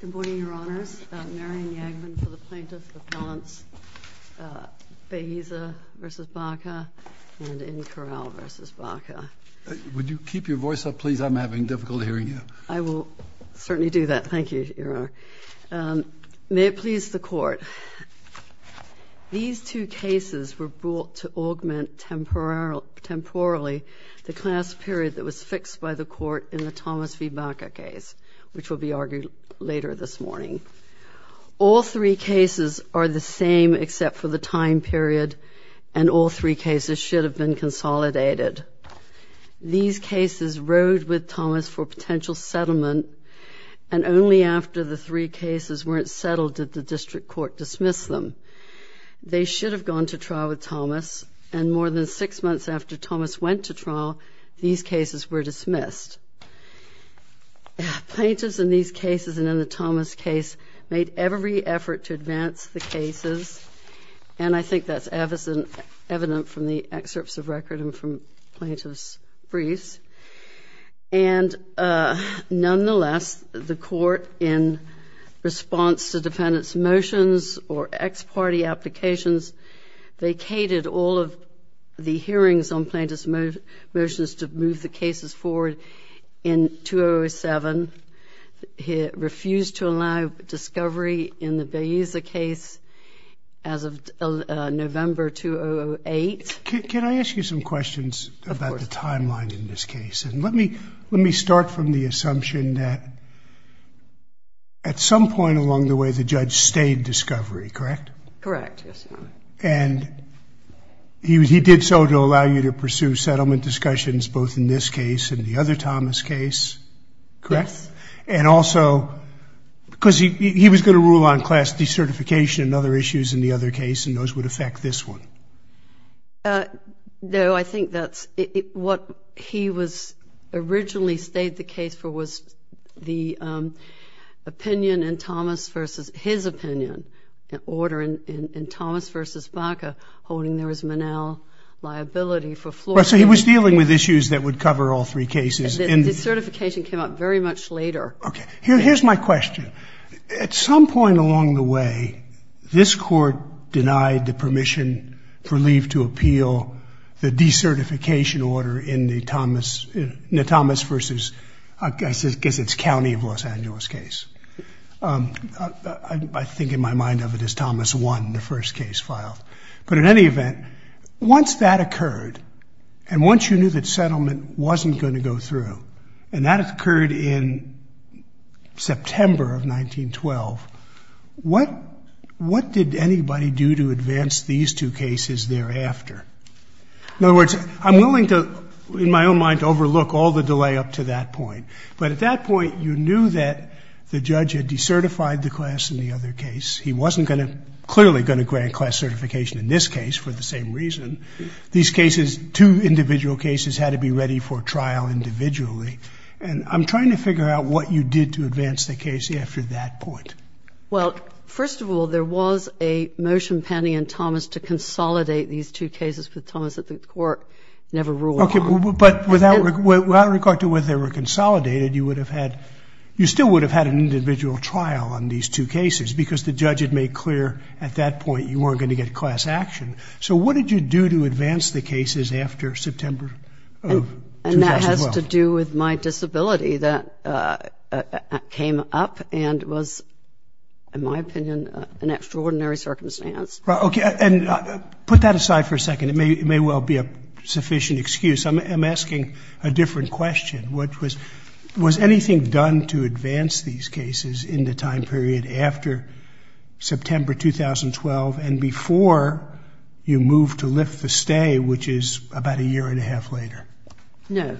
Good morning, Your Honors. I'm Marion Yagman for the Plaintiff Appellants Baeza v. Baca and Inquirel v. Baca. Would you keep your voice up, please? I'm having difficulty hearing you. I will certainly do that. Thank you, Your Honor. May it please the Court, these two cases were brought to augment temporally the class period that was fixed by the Court in the Thomas v. Baca case, which will be argued later this morning. All three cases are the same except for the time period, and all three cases should have been consolidated. These cases rode with Thomas for potential settlement, and only after the three cases weren't settled did the District Court dismiss them. They should have gone to trial with Thomas, and more than six months after Thomas went to trial, these cases were dismissed. Plaintiffs in these cases and in the Thomas case made every effort to advance the cases, and I think that's evident from the excerpts of record and from plaintiffs' briefs. And nonetheless, the Court, in response to defendants' motions or ex parte applications, vacated all of the hearings on plaintiffs' motions to move the cases forward in 2007. It refused to allow discovery in the Baeza case as of November 2008. Can I ask you some questions about the timeline in this case? Let me start from the assumption that at some point along the way the judge stayed discovery, correct? Correct, yes, Your Honor. And he did so to allow you to pursue settlement discussions both in this case and the other Thomas case, correct? Yes. And also because he was going to rule on class decertification and other issues in the other case, and those would affect this one. No, I think that's what he was originally stayed the case for was the opinion in Thomas versus his opinion, an order in Thomas versus Baca holding there was manel liability for floors. So he was dealing with issues that would cover all three cases. The certification came out very much later. Okay. Here's my question. At some point along the way, this Court denied the permission for leave to appeal the decertification order in the Thomas versus, I guess it's county of Los Angeles case. I think in my mind of it as Thomas 1, the first case filed. But in any event, once that occurred, and once you knew that settlement wasn't going to go through, and that occurred in September of 1912, what did anybody do to advance these two cases thereafter? In other words, I'm willing to, in my own mind, overlook all the delay up to that point. But at that point, you knew that the judge had decertified the class in the other case. He wasn't going to, clearly going to grant class certification in this case for the same reason. These cases, two individual cases, had to be ready for trial individually. And I'm trying to figure out what you did to advance the case after that point. Well, first of all, there was a motion pending in Thomas to consolidate these two cases with Thomas that the Court never ruled on. Okay. But without regard to whether they were consolidated, you would have had, you still would have had an individual trial on these two cases, because the judge had made clear at that point you weren't going to get class action. So what did you do to advance the cases after September of 2012? And that has to do with my disability. That came up and was, in my opinion, an extraordinary circumstance. Okay. And put that aside for a second. It may well be a sufficient excuse. I'm asking a different question. Was anything done to advance these cases in the time period after September 2012 and before you moved to lift the stay, which is about a year and a half later? No.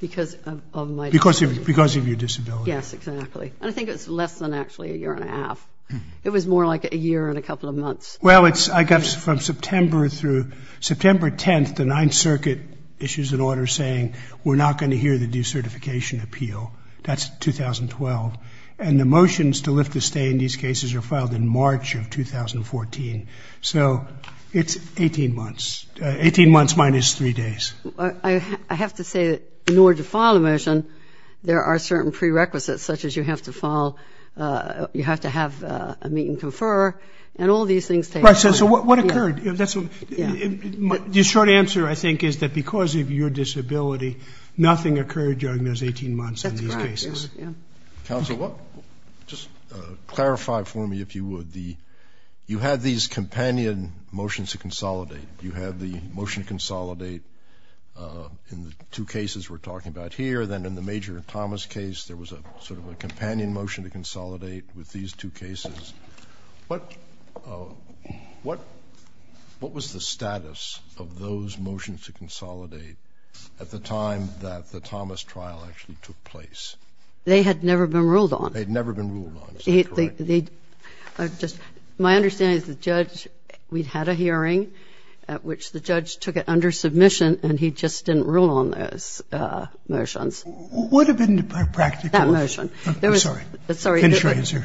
Because of my disability. Because of your disability. Yes, exactly. And I think it was less than actually a year and a half. It was more like a year and a couple of months. Well, it's, I guess, from September through September 10th, the Ninth Circuit issues an order saying we're not going to hear the decertification appeal. That's 2012. And the motions to lift the stay in these cases are filed in March of 2014. So it's 18 months. Eighteen months minus three days. I have to say that in order to file a motion, there are certain prerequisites, such as you have to file, you have to have a meet and confer, and all these things take place. Right. So what occurred? The short answer, I think, is that because of your disability, nothing occurred during those 18 months in these cases. That's right. Counsel, just clarify for me, if you would, the, you had these companion motions to consolidate. You had the motion to consolidate in the two cases we're talking about here. Then in the Major Thomas case, there was sort of a companion motion to consolidate with these two cases. What was the status of those motions to consolidate at the time that the Thomas trial actually took place? They had never been ruled on. They had never been ruled on. Is that correct? My understanding is the judge, we had a hearing at which the judge took it under submission, and he just didn't rule on those motions. Would have been practical. That motion. I'm sorry. Finish your answer.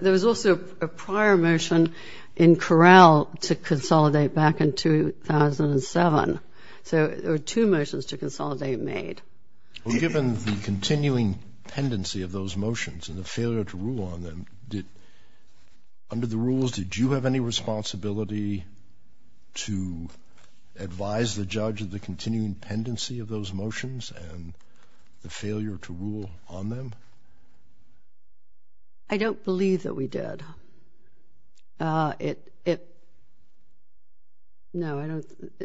There was also a prior motion in Corral to consolidate back in 2007. So there were two motions to consolidate made. Well, given the continuing pendency of those motions and the failure to rule on them, did, under the rules, did you have any responsibility to advise the judge of the continuing pendency of those motions and the failure to rule on them? I don't believe that we did. No,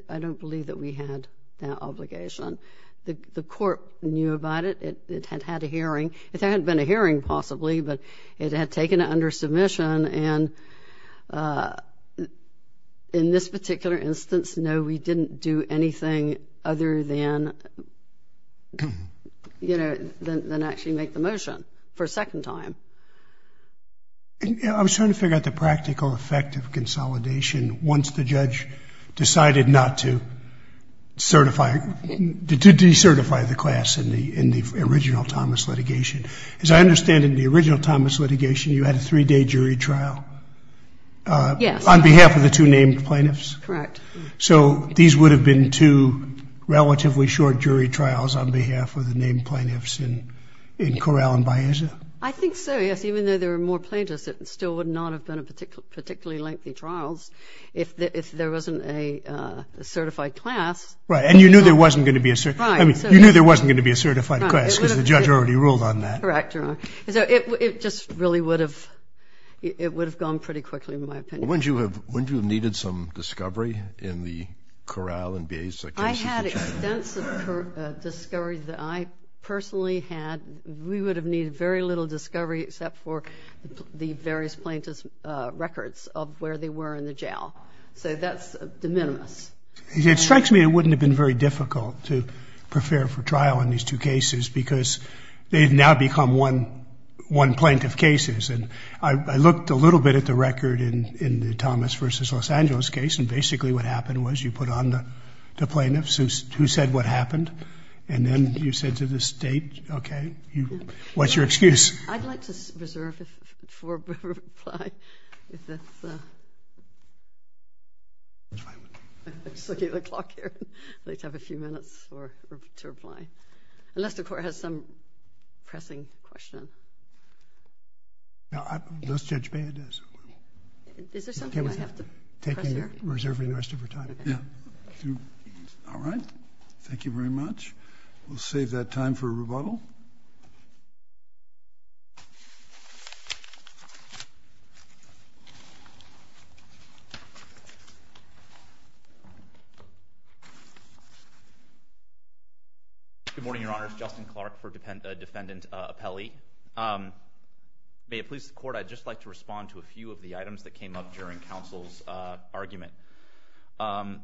I don't believe that we had that obligation. The court knew about it. It had had a hearing. There had been a hearing, possibly, but it had taken it under submission, and in this particular instance, no, we didn't do anything other than, you know, make the motion for a second time. I was trying to figure out the practical effect of consolidation once the judge decided not to certify, to decertify the class in the original Thomas litigation. As I understand it, in the original Thomas litigation, you had a three-day jury trial. Yes. On behalf of the two named plaintiffs? Correct. So these would have been two relatively short jury trials on behalf of the named plaintiffs in Corral and Baeza? I think so, yes. Even though there were more plaintiffs, it still would not have been particularly lengthy trials if there wasn't a certified class. Right, and you knew there wasn't going to be a certified class because the judge already ruled on that. Correct, Your Honor. So it just really would have gone pretty quickly, in my opinion. Wouldn't you have needed some discovery in the Corral and Baeza cases? I had extensive discovery that I personally had. We would have needed very little discovery except for the various plaintiff's records of where they were in the jail. So that's de minimis. It strikes me it wouldn't have been very difficult to prepare for trial in these two cases because they've now become one plaintiff cases. And I looked a little bit at the record in the Thomas versus Los Angeles case, and basically what happened was you put on the plaintiffs who said what happened, and then you said to the state, okay, what's your excuse? I'd like to reserve for a reply. I'm just looking at the clock here. I'd like to have a few minutes to reply. Unless the Court has some pressing question. No, unless Judge Baez does. Is there something I have to press here? Yeah. All right. Thank you very much. We'll save that time for rebuttal. Good morning, Your Honors. Justin Clark for Defendant Appelli. May it please the Court, I'd just like to respond to a few of the items that came up during counsel's argument.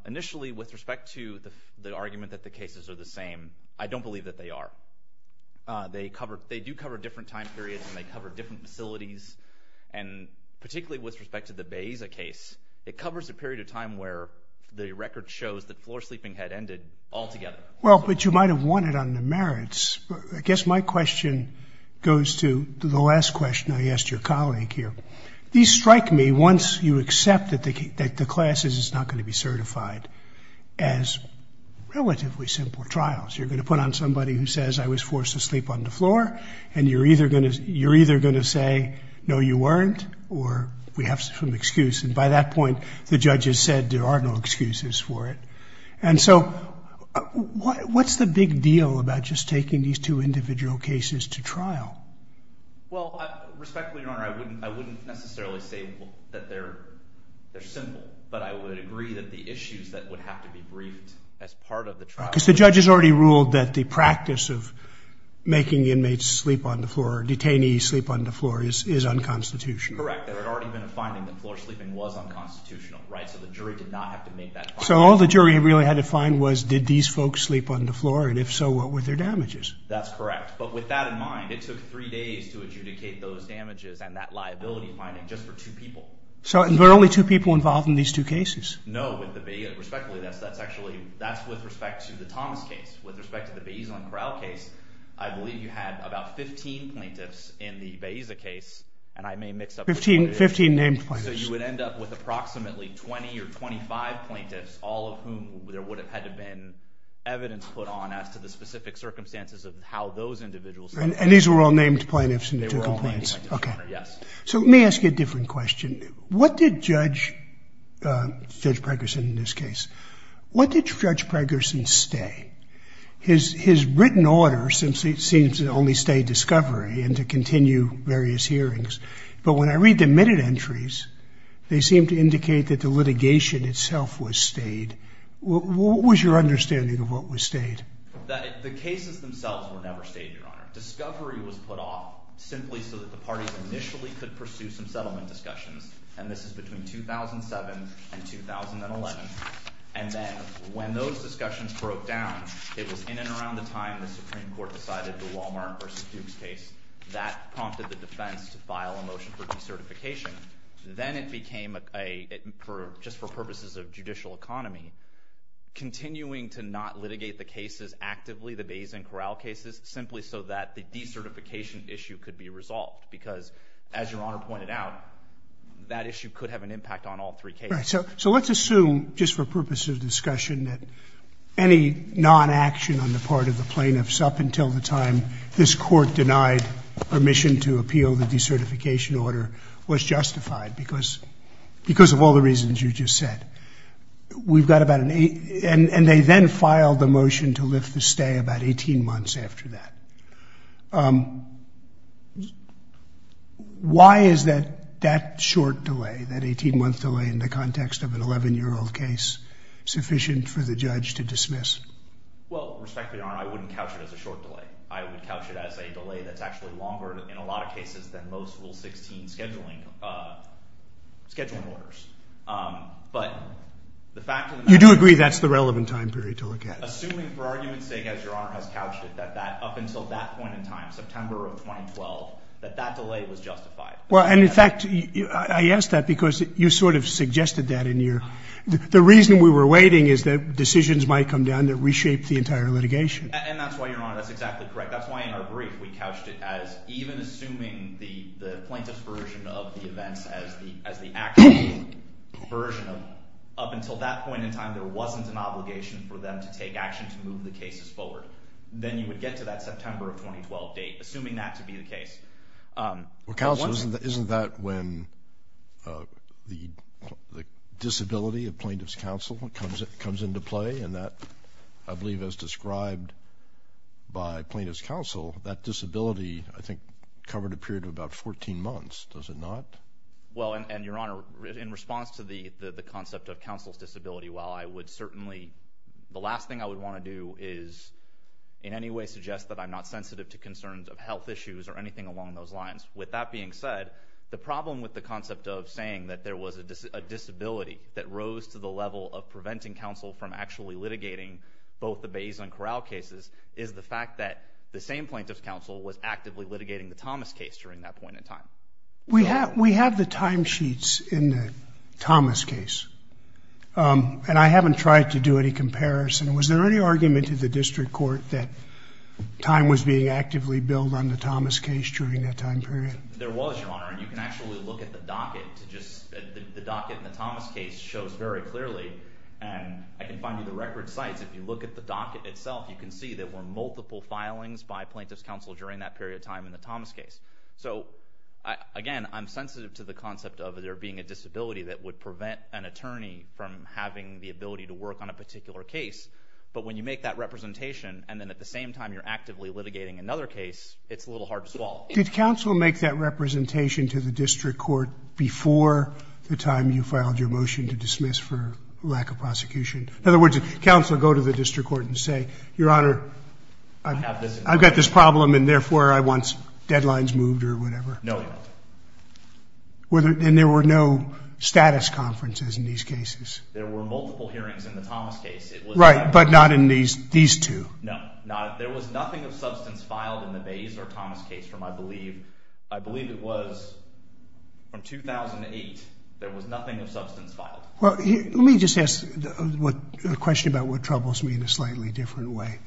Initially, with respect to the argument that the cases are the same, I don't believe that they are. They do cover different time periods and they cover different facilities, and particularly with respect to the Baeza case, it covers a period of time where the record shows that floor sleeping had ended altogether. Well, but you might have won it on the merits. I guess my question goes to the last question I asked your colleague here. These strike me once you accept that the class is not going to be certified as relatively simple trials. You're going to put on somebody who says, I was forced to sleep on the floor, and you're either going to say, no, you weren't, or we have some excuse. And by that point, the judge has said there are no excuses for it. And so what's the big deal about just taking these two individual cases to trial? Well, respectfully, Your Honor, I wouldn't necessarily say that they're simple, but I would agree that the issues that would have to be briefed as part of the trial. Because the judge has already ruled that the practice of making inmates sleep on the floor or detainees sleep on the floor is unconstitutional. Correct. There had already been a finding that floor sleeping was unconstitutional, right? So the jury did not have to make that argument. So all the jury really had to find was, did these folks sleep on the floor? And if so, what were their damages? That's correct. But with that in mind, it took three days to adjudicate those damages and that liability finding just for two people. So there were only two people involved in these two cases? No. Respectfully, that's with respect to the Thomas case. With respect to the Baeza and Corral case, I believe you had about 15 plaintiffs in the Baeza case. And I may mix up the plaintiffs. 15 named plaintiffs. So you would end up with approximately 20 or 25 plaintiffs, all of whom there would have had to have been evidence put on as to the specific circumstances of how those individuals slept. And these were all named plaintiffs in the two complaints? They were all named plaintiffs, yes. So let me ask you a different question. What did Judge Pregerson in this case, what did Judge Pregerson stay? His written order seems to only stay discovery and to continue various hearings. But when I read the minute entries, they seem to indicate that the litigation itself was stayed. What was your understanding of what was stayed? The cases themselves were never stayed, Your Honor. Discovery was put off simply so that the parties initially could pursue some settlement discussions. And this is between 2007 and 2011. And then when those discussions broke down, it was in and around the time the Supreme Court decided the Walmart versus Dukes case. That prompted the defense to file a motion for decertification. Then it became a, just for purposes of judicial economy, continuing to not litigate the cases actively, the Bays and Corral cases, simply so that the decertification issue could be resolved. Because as Your Honor pointed out, that issue could have an impact on all three cases. Right. So let's assume, just for purposes of discussion, that any non-action on the part of the plaintiffs up until the time this Court denied permission to appeal the decertification order was justified, because of all the reasons you just said. We've got about an eight, and they then filed the motion to lift the stay about 18 months after that. Why is that short delay, that 18-month delay in the context of an 11-year-old case, sufficient for the judge to dismiss? Well, respectfully, Your Honor, I wouldn't couch it as a short delay. I would couch it as a delay that's actually longer, in a lot of cases, than most Rule 16 scheduling orders. But the fact of the matter is... You do agree that's the relevant time period to look at it. Assuming, for argument's sake, as Your Honor has couched it, that up until that point in time, September of 2012, that that delay was justified. Well, and in fact, I ask that because you sort of suggested that in your... The reason we were waiting is that decisions might come down that reshape the entire litigation. And that's why, Your Honor, that's exactly correct. That's why, in our brief, we couched it as even assuming the plaintiff's version of the events as the actual version of... Up until that point in time, there wasn't an obligation for them to take action to move the cases forward. Then you would get to that September of 2012 date, assuming that to be the case. Counsel, isn't that when the disability of plaintiff's counsel comes into play? And that, I believe, as described by plaintiff's counsel, that disability, I think, covered a period of about 14 months. Does it not? Well, and, Your Honor, in response to the concept of counsel's disability, while I would certainly... The last thing I would want to do is in any way suggest that I'm not With that being said, the problem with the concept of saying that there was a disability that rose to the level of preventing counsel from actually litigating both the Bays and Corral cases is the fact that the same plaintiff's counsel was actively litigating the Thomas case during that point in time. We have the timesheets in the Thomas case. And I haven't tried to do any comparison. Was there any argument in the district court that time was being actively billed on the Thomas case during that time period? There was, Your Honor. And you can actually look at the docket to just... The docket in the Thomas case shows very clearly, and I can find you the record sites. If you look at the docket itself, you can see there were multiple filings by plaintiff's counsel during that period of time in the Thomas case. So, again, I'm sensitive to the concept of there being a disability that would prevent an attorney from having the ability to work on a particular case. But when you make that representation, and then at the same time you're actively litigating another case, it's a little hard to swallow. Did counsel make that representation to the district court before the time you filed your motion to dismiss for lack of prosecution? In other words, did counsel go to the district court and say, Your Honor, I've got this problem, and therefore I want deadlines moved or whatever? No. And there were no status conferences in these cases? There were multiple hearings in the Thomas case. Right. But not in these two? No. There was nothing of substance filed in the Bays or Thomas case from, I believe, I believe it was from 2008. There was nothing of substance filed. Well, let me just ask a question about what troubles me in a slightly different way.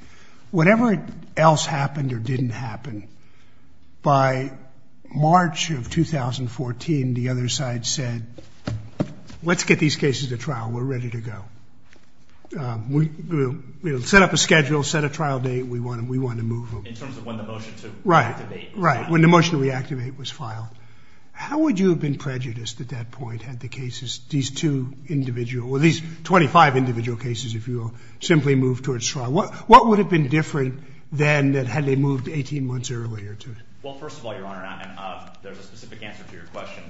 Whatever else happened or didn't happen, by March of 2014, the other side said, Let's get these cases to trial. We're ready to go. We'll set up a schedule, set a trial date. We want to move them. In terms of when the motion to reactivate was filed. Right. When the motion to reactivate was filed. How would you have been prejudiced at that point had the cases, these two individual, or these 25 individual cases, if you will, simply moved towards trial? What would have been different than had they moved 18 months earlier to trial? Well, first of all, Your Honor, there's a specific answer to your question.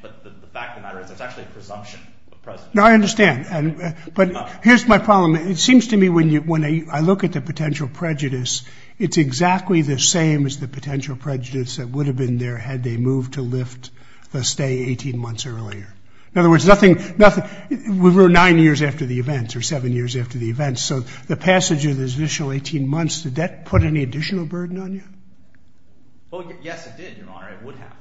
But the fact of the matter is there's actually a presumption of presumption. No, I understand. But here's my problem. It seems to me when I look at the potential prejudice, it's exactly the same as the potential prejudice that would have been there had they moved to lift the stay 18 months earlier. In other words, we were nine years after the event or seven years after the event. So the passage of those initial 18 months, did that put any additional burden on you? Well, yes, it did, Your Honor. It would have.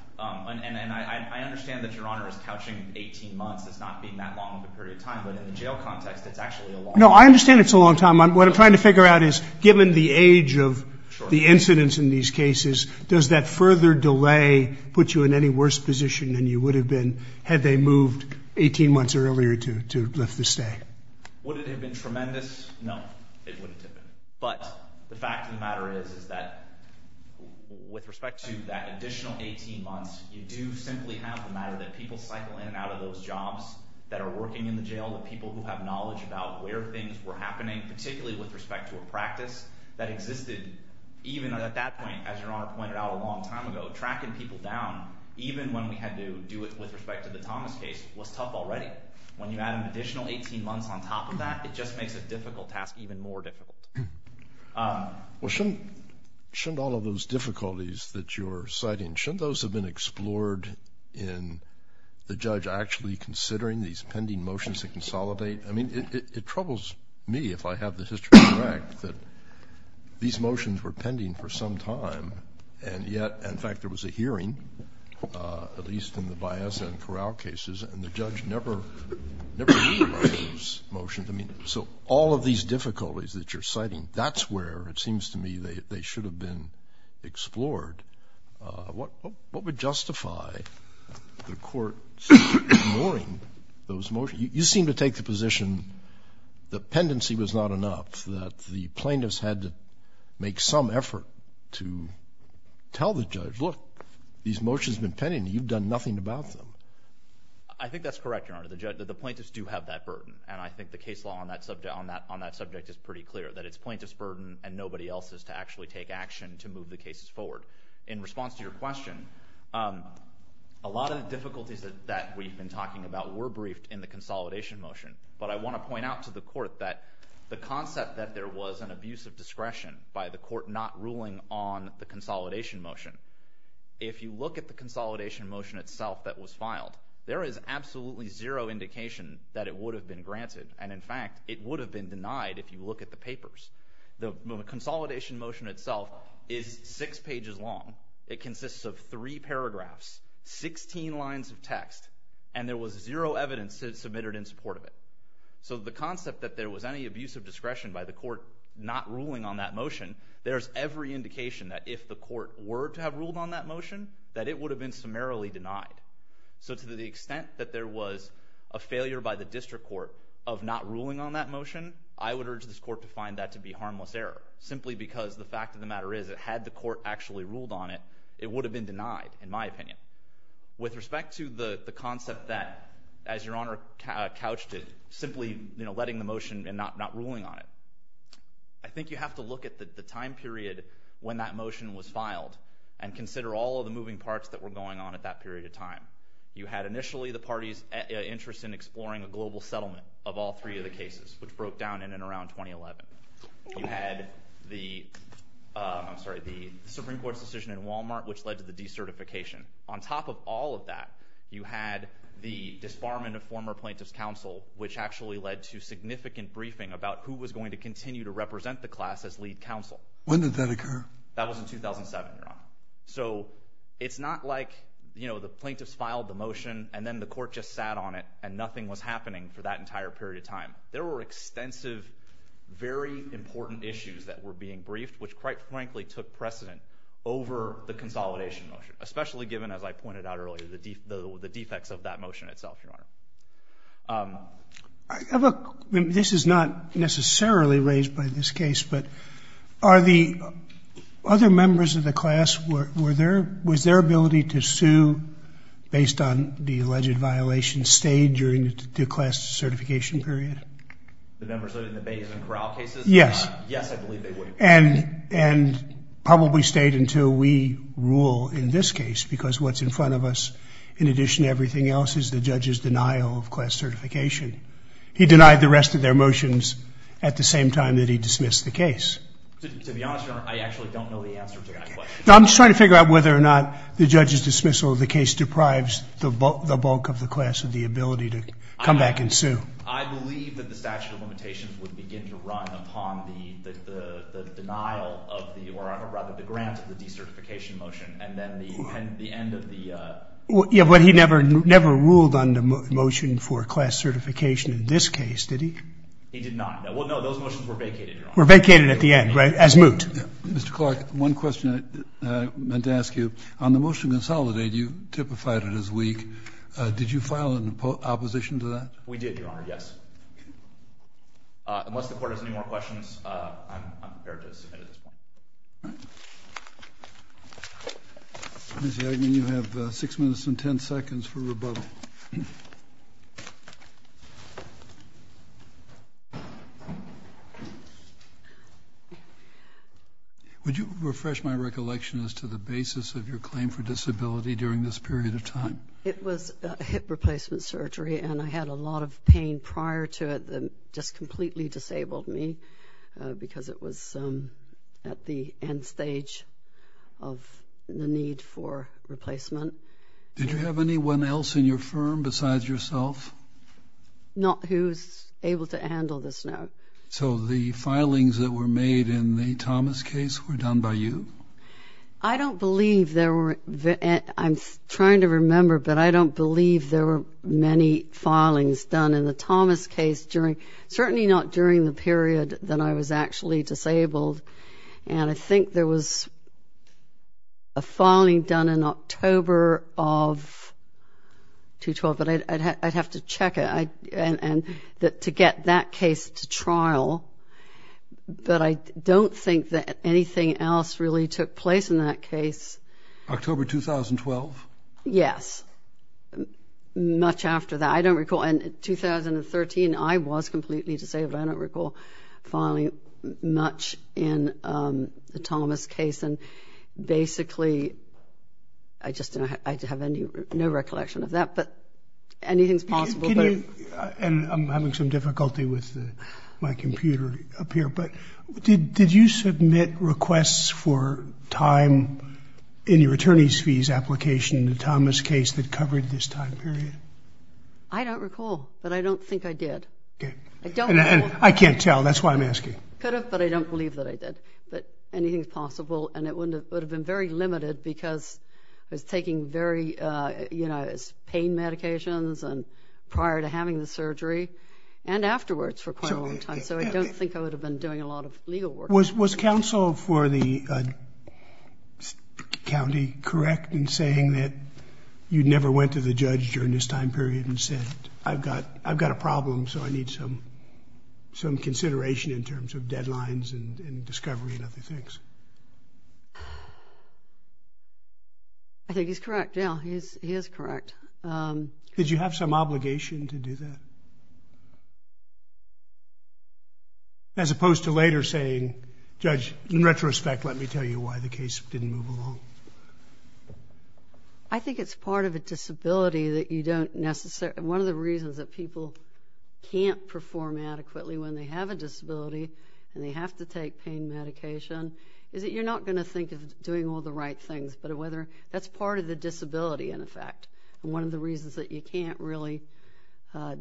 And I understand that Your Honor is couching 18 months as not being that long of a period of time. But in the jail context, it's actually a long time. No, I understand it's a long time. What I'm trying to figure out is given the age of the incidents in these cases, does that further delay put you in any worse position than you would have been had they moved 18 months earlier to lift the stay? Would it have been tremendous? No, it wouldn't have been. But the fact of the matter is is that with respect to that additional 18 months, you do simply have the matter that people cycle in and out of those jobs that are working in the jail, the people who have knowledge about where things were happening, particularly with respect to a practice that existed even at that point, as Your Honor pointed out a long time ago, tracking people down even when we had to do it with respect to the Thomas case was tough already. When you add an additional 18 months on top of that, it just makes a difficult task even more difficult. Well, shouldn't all of those difficulties that you're citing, shouldn't the judge actually considering these pending motions to consolidate? I mean, it troubles me if I have the history correct that these motions were pending for some time and yet, in fact, there was a hearing, at least in the Bias and Corral cases, and the judge never read those motions. I mean, so all of these difficulties that you're citing, that's where it seems to me they should have been explored. What would justify the court ignoring those motions? You seem to take the position the pendency was not enough, that the plaintiffs had to make some effort to tell the judge, look, these motions have been pending. You've done nothing about them. I think that's correct, Your Honor. The plaintiffs do have that burden, and I think the case law on that subject is pretty clear, that it's plaintiff's burden and nobody else's to actually take action to move the cases forward. In response to your question, a lot of the difficulties that we've been talking about were briefed in the consolidation motion, but I want to point out to the court that the concept that there was an abuse of discretion by the court not ruling on the consolidation motion, if you look at the consolidation motion itself that was filed, there is absolutely zero indication that it would have been granted, and in fact, it would have been denied if you look at the papers. The consolidation motion itself is six pages long. It consists of three paragraphs, 16 lines of text, and there was zero evidence submitted in support of it. So the concept that there was any abuse of discretion by the court not ruling on that motion, there's every indication that if the court were to have ruled on that motion, that it would have been summarily denied. So to the extent that there was a failure by the district court of not ruling on that motion, I would urge this court to find that to be harmless error, simply because the fact of the matter is, had the court actually ruled on it, it would have been denied, in my opinion. With respect to the concept that, as Your Honor couched it, simply letting the motion and not ruling on it, I think you have to look at the time period when that motion was filed and consider all of the moving parts that were going on at that period of time. You had initially the parties' interest in exploring a global settlement of all three of the cases, which broke down in and around 2011. You had the Supreme Court's decision in Walmart, which led to the decertification. On top of all of that, you had the disbarment of former plaintiffs' counsel, which actually led to significant briefing about who was going to continue to represent the class as lead counsel. When did that occur? That was in 2007, Your Honor. So it's not like the plaintiffs filed the motion and then the court just sat on it and nothing was happening for that entire period of time. There were extensive, very important issues that were being briefed, which, quite frankly, took precedent over the consolidation motion, especially given, as I pointed out earlier, the defects of that motion itself, Your Honor. This is not necessarily raised by this case, but are the other members of the class, was their ability to sue based on the alleged violation stayed during the class certification period? The members that are in the base and corral cases? Yes. Yes, I believe they were. And probably stayed until we rule in this case because what's in front of us, in addition to everything else, is the judge's denial of class certification. He denied the rest of their motions at the same time that he dismissed the case. To be honest, Your Honor, I actually don't know the answer to that question. I'm just trying to figure out whether or not the judge's dismissal of the case deprives the bulk of the class of the ability to come back and sue. I believe that the statute of limitations would begin to run upon the denial of the or rather the grant of the decertification motion and then the end of the Yeah, but he never ruled on the motion for class certification in this case, did he? He did not. Well, no, those motions were vacated, Your Honor. Were vacated at the end, right, as moot. Mr. Clark, one question I meant to ask you. On the motion to consolidate, you typified it as weak. Did you file an opposition to that? We did, Your Honor, yes. Unless the Court has any more questions, I'm prepared to submit at this point. All right. Ms. Yegman, you have 6 minutes and 10 seconds for rebuttal. Would you refresh my recollection as to the basis of your claim for disability during this period of time? It was hip replacement surgery, and I had a lot of pain prior to it that just completely disabled me because it was at the end stage of the need for replacement. Did you have anyone else in your firm besides yourself? Not who's able to handle this now. So the filings that were made in the Thomas case were done by you? I don't believe there were, I'm trying to remember, but I don't believe there were many filings done in the Thomas case during, certainly not during the period that I was actually disabled. And I think there was a filing done in October of 2012, but I'd have to check it to get that case to trial. But I don't think that anything else really took place in that case. October 2012? Yes, much after that. I don't recall, in 2013, I was completely disabled. I don't recall filing much in the Thomas case. And basically, I just have no recollection of that. But anything's possible. And I'm having some difficulty with my computer up here. But did you submit requests for time in your attorney's fees application in the I don't recall, but I don't think I did. I can't tell. That's why I'm asking. Could have, but I don't believe that I did. But anything's possible. And it would have been very limited because I was taking very, you know, pain medications prior to having the surgery and afterwards for quite a long time. So I don't think I would have been doing a lot of legal work. Was counsel for the county correct in saying that you never went to the judge during this time period and said, I've got a problem, so I need some consideration in terms of deadlines and discovery and other things? I think he's correct, yeah. He is correct. Did you have some obligation to do that? As opposed to later saying, Judge, in retrospect, let me tell you why the case didn't move along. I think it's part of a disability that you don't necessarily, one of the reasons that people can't perform adequately when they have a disability and they have to take pain medication is that you're not going to think of doing all the right things. But that's part of the disability, in effect. One of the reasons that you can't really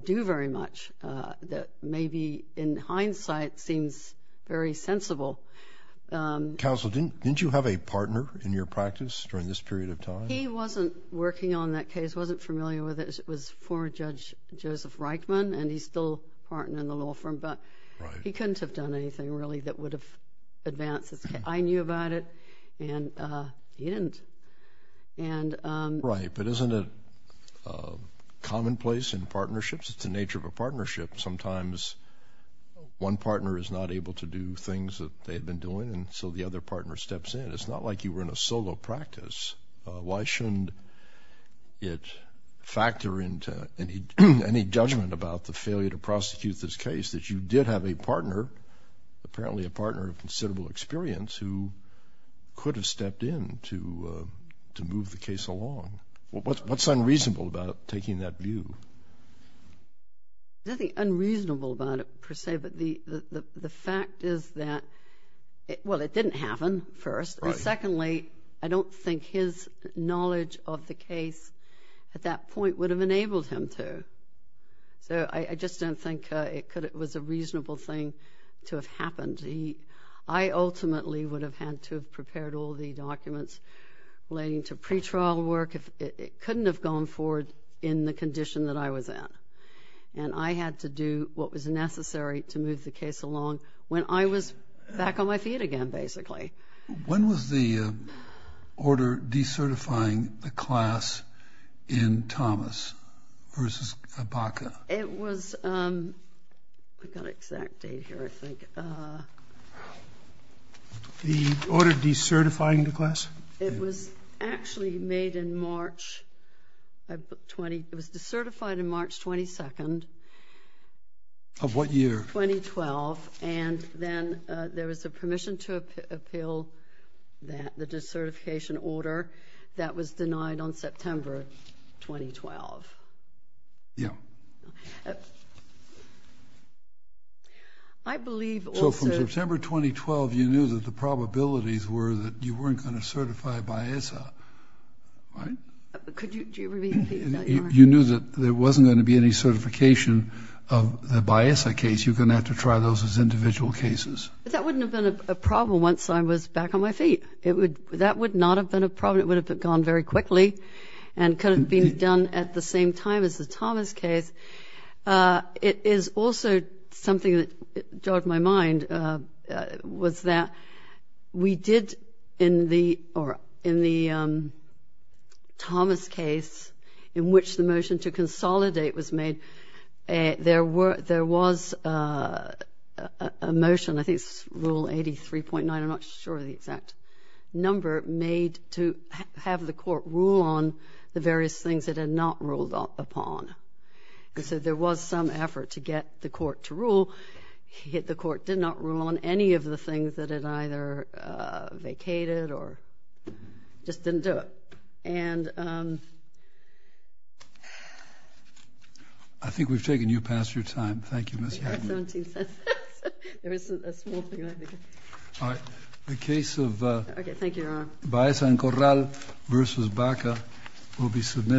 do very much that maybe in hindsight seems very sensible. Counsel, didn't you have a partner in your practice during this period of time? He wasn't working on that case, wasn't familiar with it. It was former Judge Joseph Reichman, and he's still a partner in the law firm, but he couldn't have done anything really that would have advanced this case. I knew about it, and he didn't. Right, but isn't it commonplace in partnerships? It's the nature of a partnership. Sometimes one partner is not able to do things that they've been doing, and so the other partner steps in. It's not like you were in a solo practice. Why shouldn't it factor into any judgment about the failure to prosecute this case that you did have a partner, apparently a partner of considerable experience, who could have stepped in to move the case along? What's unreasonable about taking that view? There's nothing unreasonable about it per se, but the fact is that, well, it didn't happen first. Secondly, I don't think his knowledge of the case at that point would have enabled him to. So I just don't think it was a reasonable thing to have happened. I ultimately would have had to have prepared all the documents relating to pretrial work. It couldn't have gone forward in the condition that I was in, and I had to do what was necessary to move the case along when I was back on my feet again, basically. When was the order decertifying the class in Thomas versus Abaca? It was—I've got an exact date here, I think. The order decertifying the class? It was actually made in March—it was decertified in March 22nd. Of what year? 2012, and then there was a permission to appeal the decertification order that was denied on September 2012. Yeah. I believe also— So from September 2012, you knew that the probabilities were that you weren't going to certify Baeza, right? Could you repeat that? You knew that there wasn't going to be any certification of the Baeza case. You're going to have to try those as individual cases. That wouldn't have been a problem once I was back on my feet. That would not have been a problem. It would have gone very quickly and could have been done at the same time as the Thomas case. It is also something that jogged my mind, was that we did, in the Thomas case, in which the motion to consolidate was made, there was a motion, I think it's Rule 83.9, I'm not sure of the exact number, made to have the court rule on the various things it had not ruled upon. And so there was some effort to get the court to rule. The court did not rule on any of the things that it either vacated or just didn't do it. I think we've taken you past your time. Thank you, Ms. Hadley. I have 17 sentences. There isn't a small thing like that. All right. The case of— Okay, thank you, Your Honor.